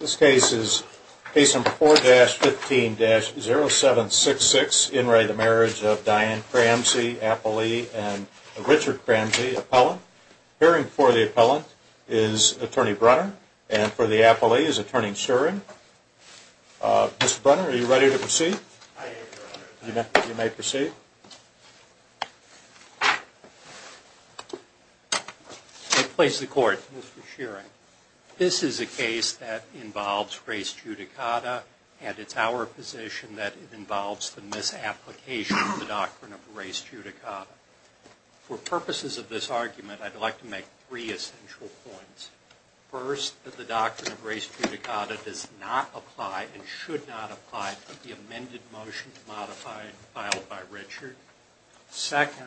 This case is case number 4-15-0766, in re the marriage of Diane Cramsey, appellee, and Richard Cramsey, appellant. Appearing before the appellant is Attorney Brunner, and for the appellee is Attorney Shearing. Mr. Brunner, are you ready to proceed? I am, Your Honor. You may proceed. You may place the court. Mr. Shearing. This is a case that involves race judicata, and it's our position that it involves the misapplication of the doctrine of race judicata. For purposes of this argument, I'd like to make three essential points. First, that the doctrine of race judicata does not apply and should not apply to the amended motion to modify filed by Richard. Second,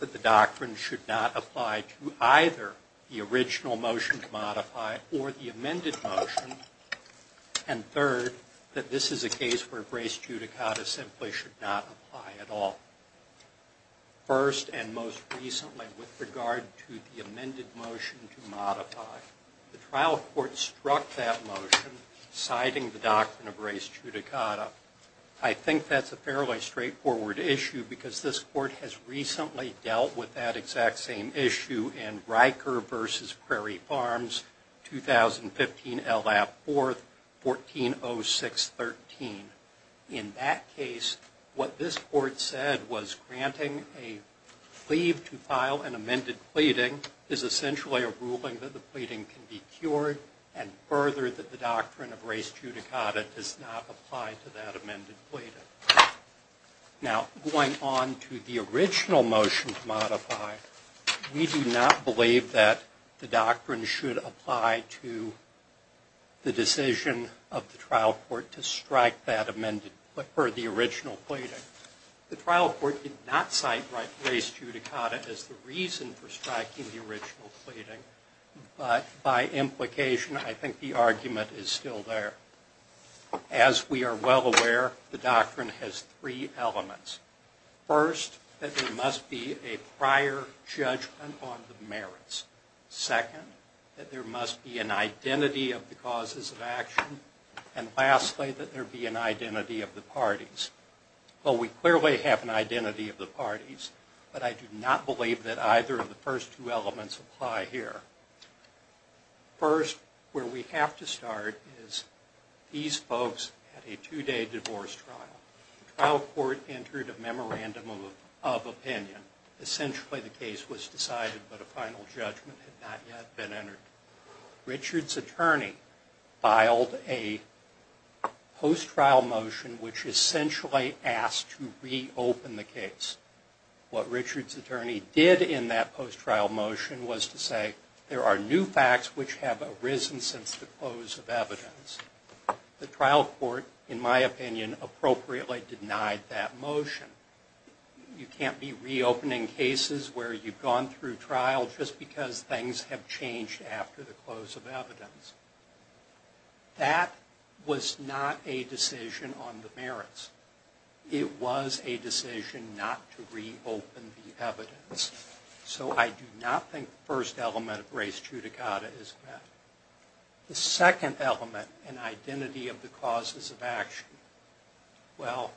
that the doctrine should not apply to either the original motion to modify or the amended motion. And third, that this is a case where race judicata simply should not apply at all. First, and most recently, with regard to the amended motion to modify, the trial court struck that motion, citing the doctrine of race judicata. I think that's a fairly straightforward issue because this court has recently dealt with that exact same issue in Riker v. Prairie Farms, 2015, L.A. 4th, 140613. In that case, what this court said was granting a plea to file an amended pleading is essentially a ruling that the pleading can be cured, and further, that the doctrine of race judicata does not apply to that amended pleading. Now, going on to the original motion to modify, we do not believe that the doctrine should apply to the decision of the trial court to strike that amended, or the original pleading. The trial court did not cite race judicata as the reason for striking the original pleading, but by implication, I think the argument is still there. As we are well aware, the doctrine has three elements. First, that there must be a prior judgment on the merits. Second, that there must be an identity of the causes of action. And lastly, that there be an identity of the parties. Well, we clearly have an identity of the parties, but I do not believe that either of the first two elements apply here. First, where we have to start is these folks had a two-day divorce trial. The trial court entered a memorandum of opinion. Essentially, the case was decided, but a final judgment had not yet been entered. Richard's attorney filed a post-trial motion, which essentially asked to reopen the case. What Richard's attorney did in that post-trial motion was to say, there are new facts which have arisen since the close of evidence. The trial court, in my opinion, appropriately denied that motion. You can't be reopening cases where you've gone through trial just because things have changed after the close of evidence. That was not a decision on the merits. It was a decision not to reopen the evidence. So I do not think the first element of res judicata is met. The second element, an identity of the causes of action. Well,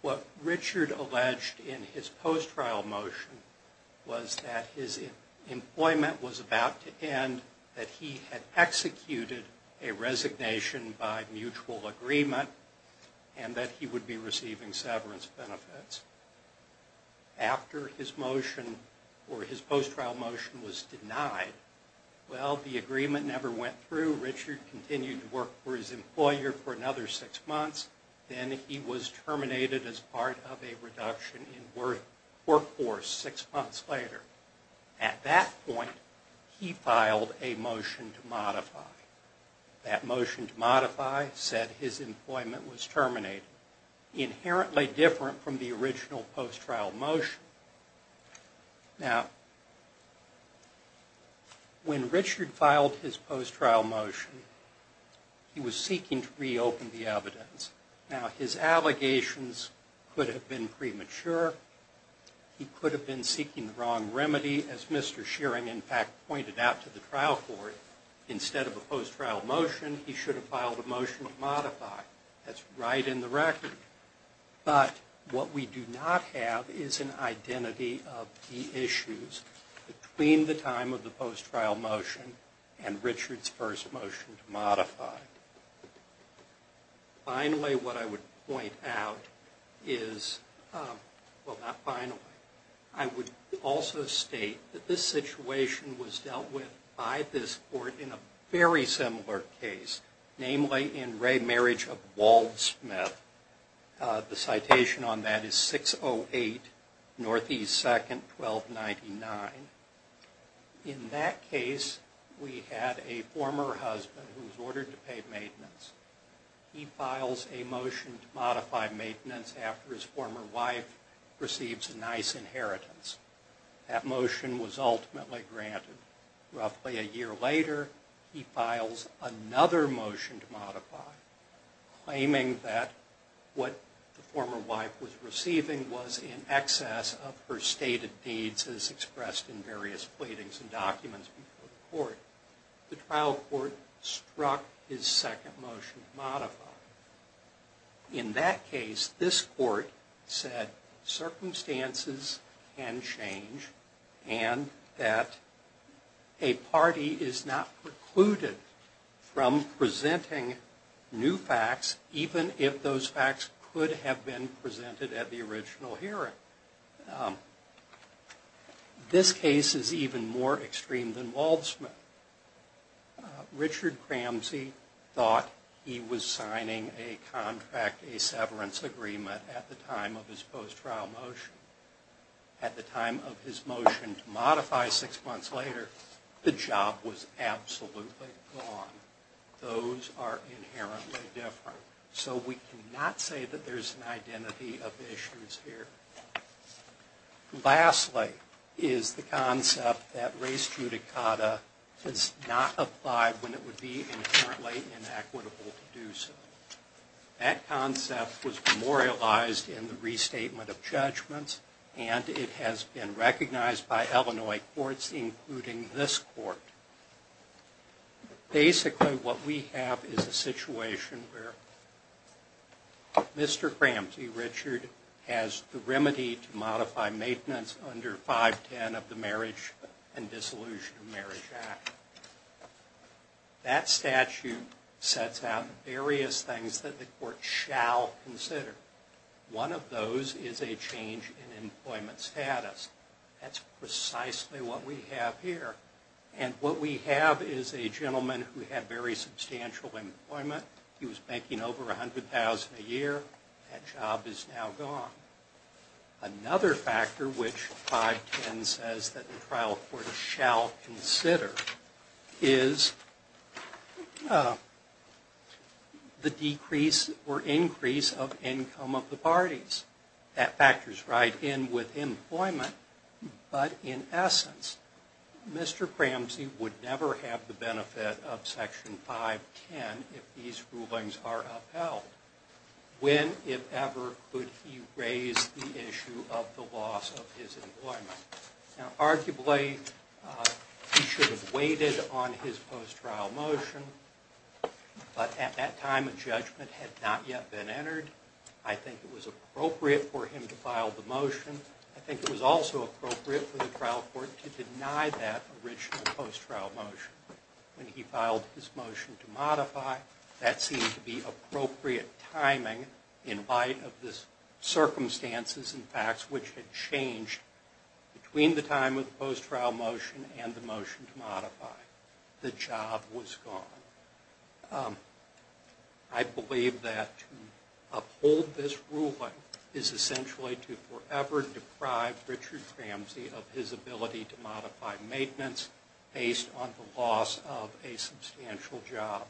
what Richard alleged in his post-trial motion was that his employment was about to end, that he had executed a resignation by mutual agreement, and that he would be receiving severance benefits. After his motion, or his post-trial motion, was denied, well, the agreement never went through. Richard continued to work for his employer for another six months. Then he was terminated as part of a reduction in work force six months later. At that point, he filed a motion to modify. That motion to modify said his employment was terminated, inherently different from the original post-trial motion. Now, when Richard filed his post-trial motion, he was seeking to reopen the evidence. Now, his allegations could have been premature. He could have been seeking the wrong remedy. As Mr. Shearing, in fact, pointed out to the trial court, instead of a post-trial motion, he should have filed a motion to modify. That's right in the record. But what we do not have is an identity of the issues between the time of the post-trial motion and Richard's first motion to modify. Finally, what I would point out is, well, not finally. I would also state that this situation was dealt with by this court in a very similar case, namely in Ray Marriage of Waldsmith. The citation on that is 608 Northeast 2nd, 1299. In that case, we had a former husband who was ordered to pay maintenance. He files a motion to modify maintenance after his former wife receives a nice inheritance. That motion was ultimately granted. Roughly a year later, he files another motion to modify, claiming that what the former wife was receiving was in excess of her stated needs, as expressed in various platings and documents before the court. The trial court struck his second motion to modify. In that case, this court said circumstances can change and that a party is not precluded from presenting new facts, even if those facts could have been presented at the original hearing. This case is even more extreme than Waldsmith. Richard Cramsey thought he was signing a contract, a severance agreement, at the time of his post-trial motion. At the time of his motion to modify six months later, the job was absolutely gone. Those are inherently different. So we cannot say that there's an identity of issues here. Lastly is the concept that race judicata is not applied when it would be inherently inequitable to do so. That concept was memorialized in the restatement of judgments, and it has been recognized by Illinois courts, including this court. Basically, what we have is a situation where Mr. Cramsey, Richard, has the remedy to modify maintenance under 510 of the Marriage and Dissolution of Marriage Act. That statute sets out various things that the court shall consider. One of those is a change in employment status. That's precisely what we have here. And what we have is a gentleman who had very substantial employment. He was making over $100,000 a year. That job is now gone. Another factor which 510 says that the trial court shall consider is the decrease or increase of income of the parties. That factors right in with employment. But in essence, Mr. Cramsey would never have the benefit of Section 510 if these rulings are upheld. When, if ever, would he raise the issue of the loss of his employment? Arguably, he should have waited on his post-trial motion, but at that time a judgment had not yet been entered. I think it was appropriate for him to file the motion. I think it was also appropriate for the trial court to deny that original post-trial motion. When he filed his motion to modify, that seemed to be appropriate timing in light of the circumstances and facts which had changed between the time of the post-trial motion and the motion to modify. The job was gone. I believe that to uphold this ruling is essentially to forever deprive Richard Cramsey of his ability to modify maintenance based on the loss of a substantial job.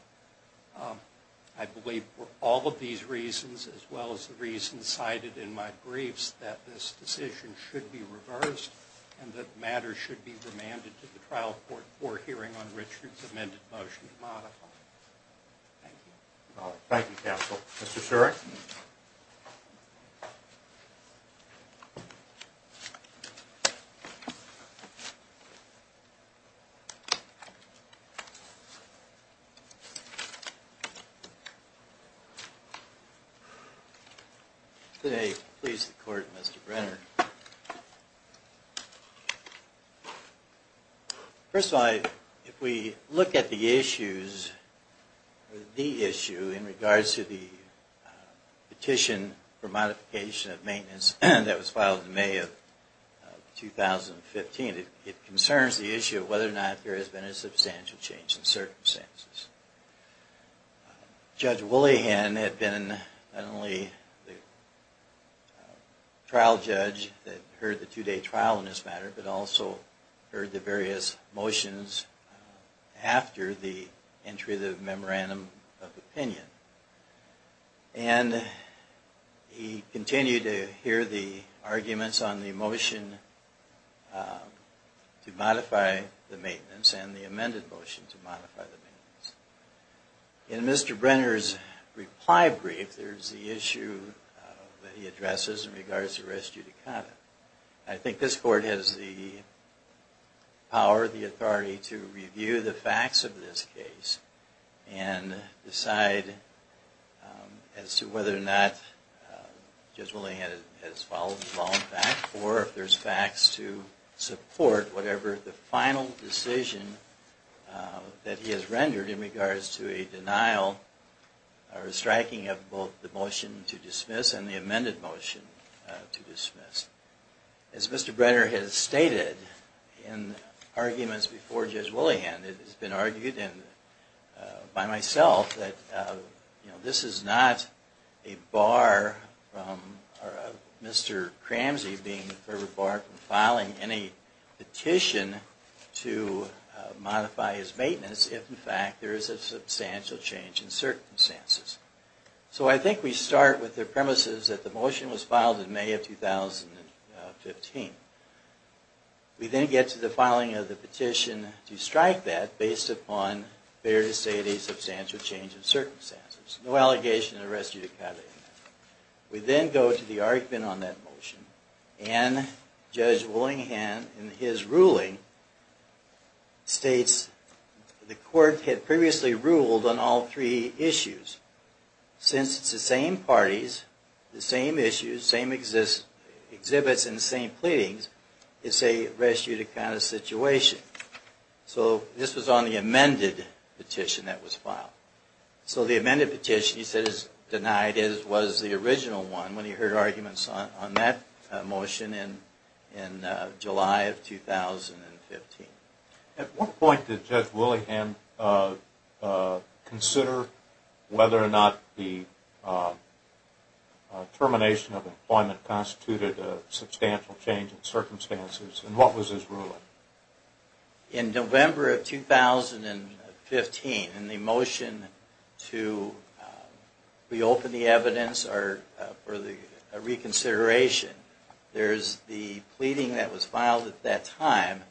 I believe for all of these reasons, as well as the reasons cited in my briefs, that this decision should be reversed and that matters should be remanded to the trial court for hearing on Richard's amended motion to modify. Thank you. Thank you, counsel. Mr. Surik? Good day. Please, the court, Mr. Brenner. First of all, if we look at the issues, the issue in regards to the petition for modification of maintenance that was filed in May of 2015, it concerns the issue of whether or not there has been a substantial change in circumstances. Judge Woollahan had been not only the trial judge that heard the two-day trial in this matter, but also heard the various motions after the entry of the memorandum of opinion. And he continued to hear the arguments on the motion to modify the maintenance and the amended motion to modify the maintenance. In Mr. Brenner's reply brief, there's the issue that he addresses in regards to res judicata. I think this court has the power, the authority to review the facts of this case and decide as to whether or not Judge Woollahan has followed the law in fact, or if there's facts to support whatever the final decision that he has rendered in regards to a denial or a striking of both the motion to dismiss and the amended motion to dismiss. As Mr. Brenner has stated in arguments before Judge Woollahan, it has been argued by myself that this is not a bar from Mr. Cramsey being a bar from filing any petition to modify his maintenance if in fact there is a substantial change in circumstances. So I think we start with the premises that the motion was filed in May of 2015. We then get to the filing of the petition to strike that based upon, fair to say, a substantial change in circumstances. No allegation of res judicata in that. We then go to the argument on that motion and Judge Woollahan in his ruling states the court had previously ruled on all three issues. Since it's the same parties, the same issues, same exhibits and the same pleadings, it's a res judicata situation. So this was on the amended petition that was filed. So the amended petition he said was denied was the original one when he heard arguments on that motion in July of 2015. At what point did Judge Woollahan consider whether or not the termination of employment constituted a substantial change in circumstances? And what was his ruling? In November of 2015, in the motion to reopen the evidence or the reconsideration, there is the pleading that was filed at that time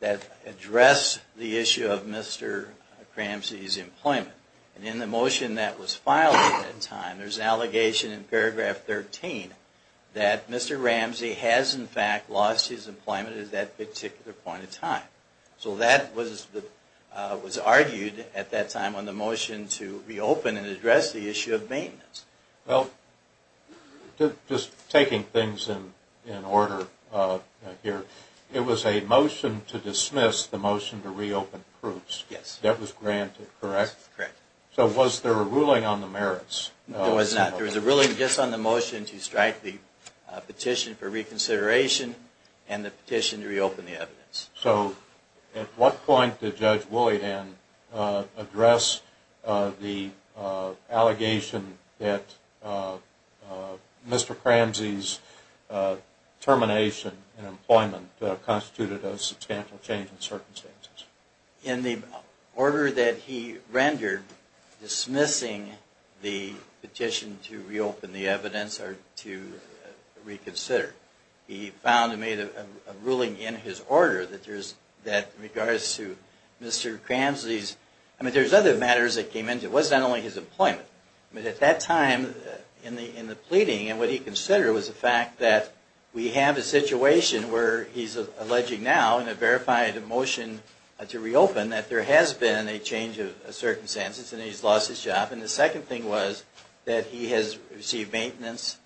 that addressed the issue of Mr. Cramsey's employment. And in the motion that was filed at that time, there's an allegation in paragraph 13 that Mr. Ramsey has in fact lost his employment at that particular point in time. So that was argued at that time on the motion to reopen and address the issue of maintenance. Well, just taking things in order here, it was a motion to dismiss the motion to reopen proofs. Yes. That was granted, correct? Correct. So was there a ruling on the merits? There was not. There was a ruling just on the motion to strike the petition for reconsideration and the petition to reopen the evidence. So at what point did Judge Woollahan address the allegation that Mr. Cramsey's termination in employment constituted a substantial change in circumstances? In the order that he rendered dismissing the petition to reopen the evidence or to reconsider, he found and made a ruling in his order that there's, that in regards to Mr. Cramsey's, I mean, there's other matters that came into it. I mean, at that time in the pleading and what he considered was the fact that we have a situation where he's alleging now in a verified motion to reopen that there has been a change of circumstances and he's lost his job. And the second thing was that he has received maintenance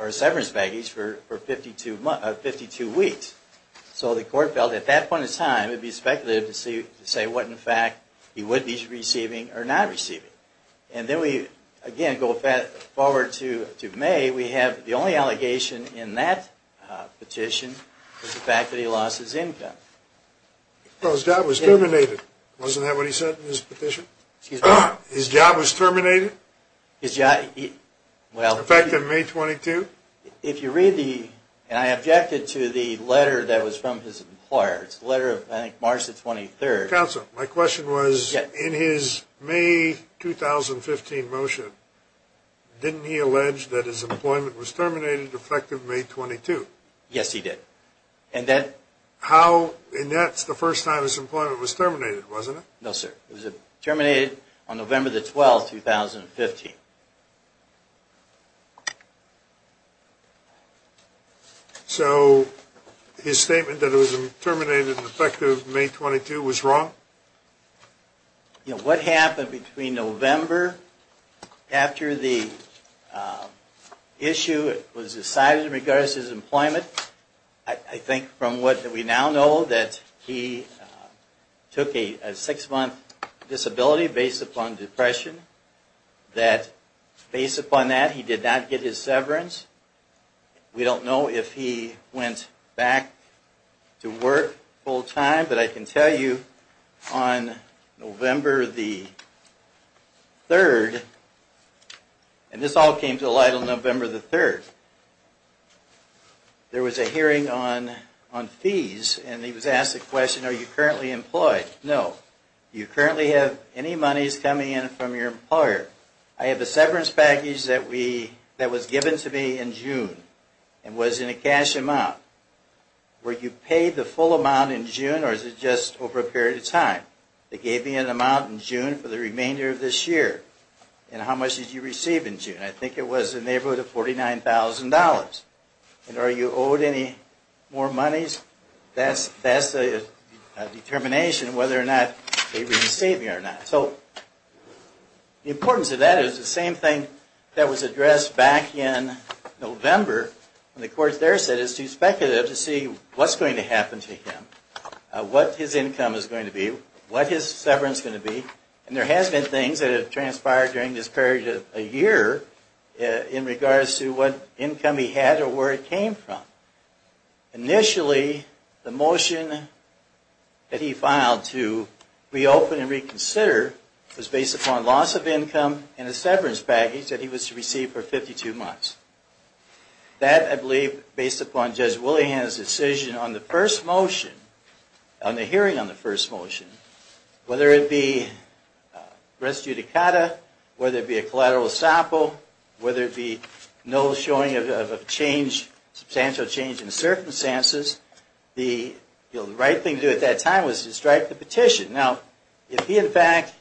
or severance baggage for 52 weeks. So the court felt at that point in time it would be speculative to say what in fact he would be receiving or not receiving. And then we, again, go forward to May, we have the only allegation in that petition is the fact that he lost his income. Well, his job was terminated. Wasn't that what he said in his petition? Excuse me? His job was terminated? His job, well... In fact, in May 22? If you read the, and I objected to the letter that was from his employer. It's the letter of, I think, March the 23rd. Counsel, my question was, in his May 2015 motion, didn't he allege that his employment was terminated effective May 22? Yes, he did. And that's the first time his employment was terminated, wasn't it? No, sir. It was terminated on November the 12th, 2015. So his statement that it was terminated effective May 22 was wrong? You know, what happened between November, after the issue was decided in regards to his employment, I think from what we now know that he took a six-month disability based upon depression, that based upon that he did not get his severance. We don't know if he went back to work full-time, but I can tell you on November the 3rd, and this all came to light on November the 3rd, there was a hearing on fees, and he was asked the question, are you currently employed? No. Do you currently have any monies coming in from your employer? I have a severance package that was given to me in June and was in a cash amount. Were you paid the full amount in June, or was it just over a period of time? They gave me an amount in June for the remainder of this year. And how much did you receive in June? I think it was a neighborhood of $49,000. And are you owed any more monies? That's the determination whether or not they re-receive you or not. So the importance of that is the same thing that was addressed back in November when the courts there said it's too speculative to see what's going to happen to him, what his income is going to be, what his severance is going to be, and there has been things that have transpired during this period of a year in regards to what income he had or where it came from. Initially, the motion that he filed to reopen and reconsider was based upon loss of income and a severance package that he was to receive for 52 months. That, I believe, based upon Judge Willihan's decision on the first motion, on the hearing on the first motion, whether it be res judicata, whether it be a collateral estoppel, whether it be no showing of substantial change in circumstances, the right thing to do at that time was to strike the petition. Now, if he in fact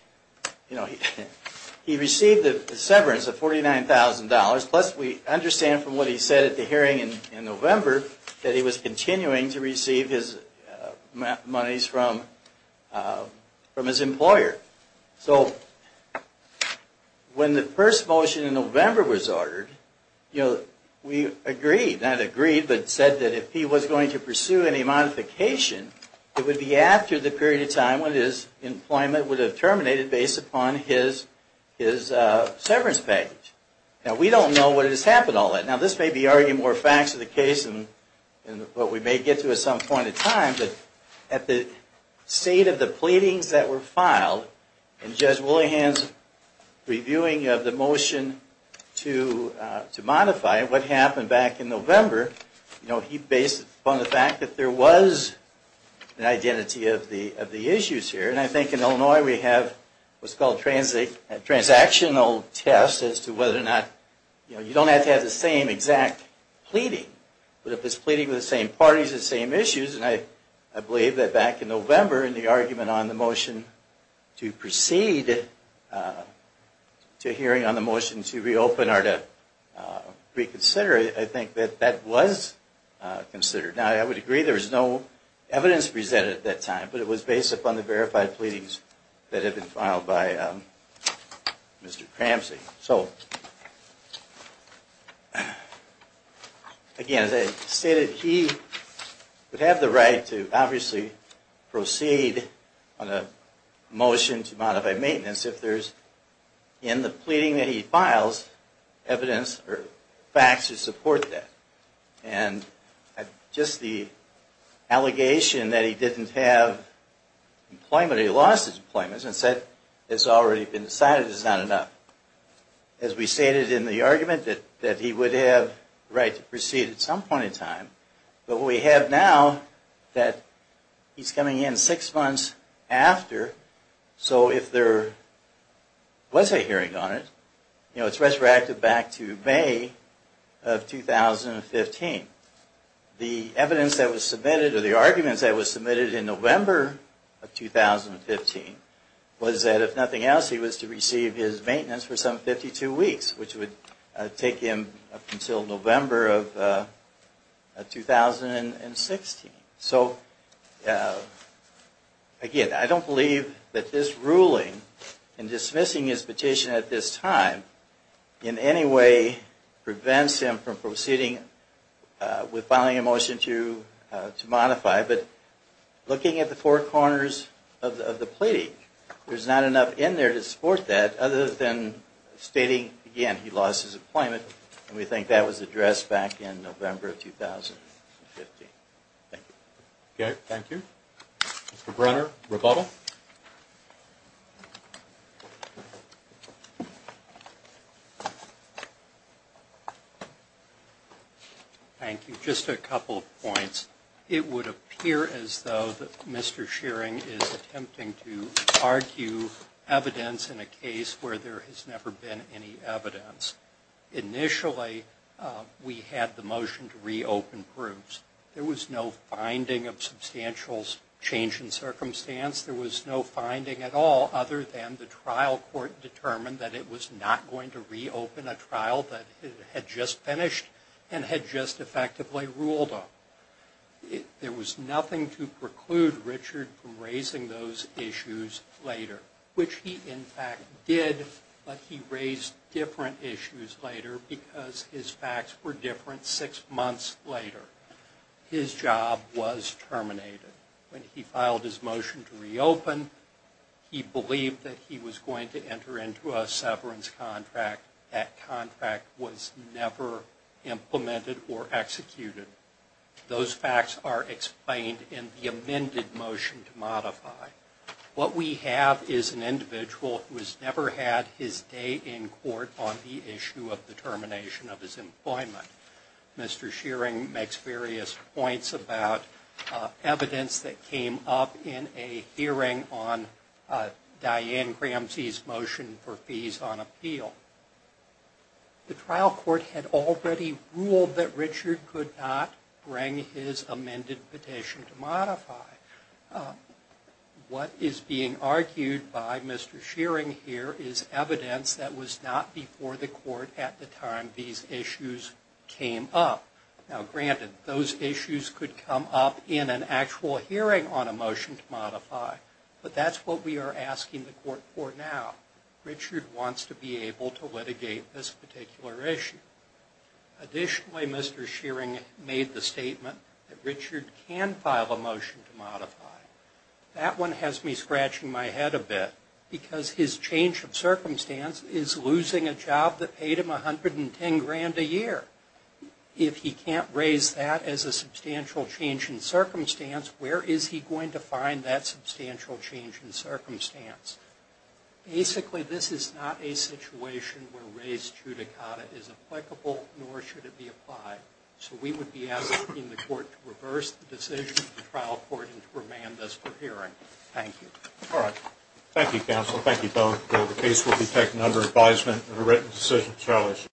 received a severance of $49,000, plus we understand from what he said at the hearing in November that he was continuing to receive his monies from his employer. So, when the first motion in November was ordered, we agreed, not agreed, but said that if he was going to pursue any modification, it would be after the period of time when his employment would have terminated based upon his severance package. Now, we don't know what has happened all that. Now, this may be arguing more facts of the case than what we may get to at some point in time, but at the state of the pleadings that were filed, and Judge Willihan's reviewing of the motion to modify it, what happened back in November, he based it upon the fact that there was an identity of the issues here. And I think in Illinois we have what's called a transactional test as to whether or not, you don't have to have the same exact pleading, but if it's pleading with the same parties, the same issues, and I believe that back in November, in the argument on the motion to proceed to hearing on the motion to reopen or to reconsider, I think that that was considered. Now, I would agree there was no evidence presented at that time, but it was based upon the verified pleadings that had been filed by Mr. Cramsey. So, again, as I stated, he would have the right to obviously proceed on a motion to modify maintenance if there's in the pleading that he files evidence or facts to support that. And just the allegation that he didn't have employment, or that he lost his employment and said it's already been decided is not enough. As we stated in the argument that he would have the right to proceed at some point in time, but we have now that he's coming in six months after, so if there was a hearing on it, it's resurrected back to May of 2015. The evidence that was submitted, or the arguments that were submitted in November of 2015, was that if nothing else, he was to receive his maintenance for some 52 weeks, which would take him up until November of 2016. So, again, I don't believe that this ruling and dismissing his petition at this time in any way prevents him from proceeding with filing a motion to modify, but looking at the four corners of the pleading, there's not enough in there to support that other than stating, again, he lost his employment, and we think that was addressed back in November of 2015. Thank you. Okay, thank you. Mr. Brenner, rebuttal. Thank you. Just a couple of points. It would appear as though that Mr. Shearing is attempting to argue evidence in a case where there has never been any evidence. Initially, we had the motion to reopen proofs. There was no finding of substantial change in circumstance. There was no finding at all other than the trial court determined that it was not going to reopen a trial that it had just finished and had just effectively ruled on. There was nothing to preclude Richard from raising those issues later, which he, in fact, did, but he raised different issues later because his facts were different six months later. His job was terminated. When he filed his motion to reopen, he believed that he was going to enter into a severance contract. That contract was never implemented or executed. Those facts are explained in the amended motion to modify. What we have is an individual who has never had his day in court on the issue of the termination of his employment. Mr. Shearing makes various points about evidence that came up in a hearing on Diane Gramsci's motion for fees on appeal. The trial court had already ruled that Richard could not bring his amended petition to modify. What is being argued by Mr. Shearing here is evidence that was not before the court at the time these issues came up. Now, granted, those issues could come up in an actual hearing on a motion to modify, but that's what we are asking the court for now. Richard wants to be able to litigate this particular issue. Additionally, Mr. Shearing made the statement that Richard can file a motion to modify. That one has me scratching my head a bit because his change of circumstance is losing a job that paid him $110,000 a year. If he can't raise that as a substantial change in circumstance, where is he going to find that substantial change in circumstance? Basically, this is not a situation where raised judicata is applicable, nor should it be applied. So we would be asking the court to reverse the decision of the trial court and to remand this for hearing. Thank you. All right. Thank you, counsel. Thank you both. The case will be taken under advisement and a written decision shall issue.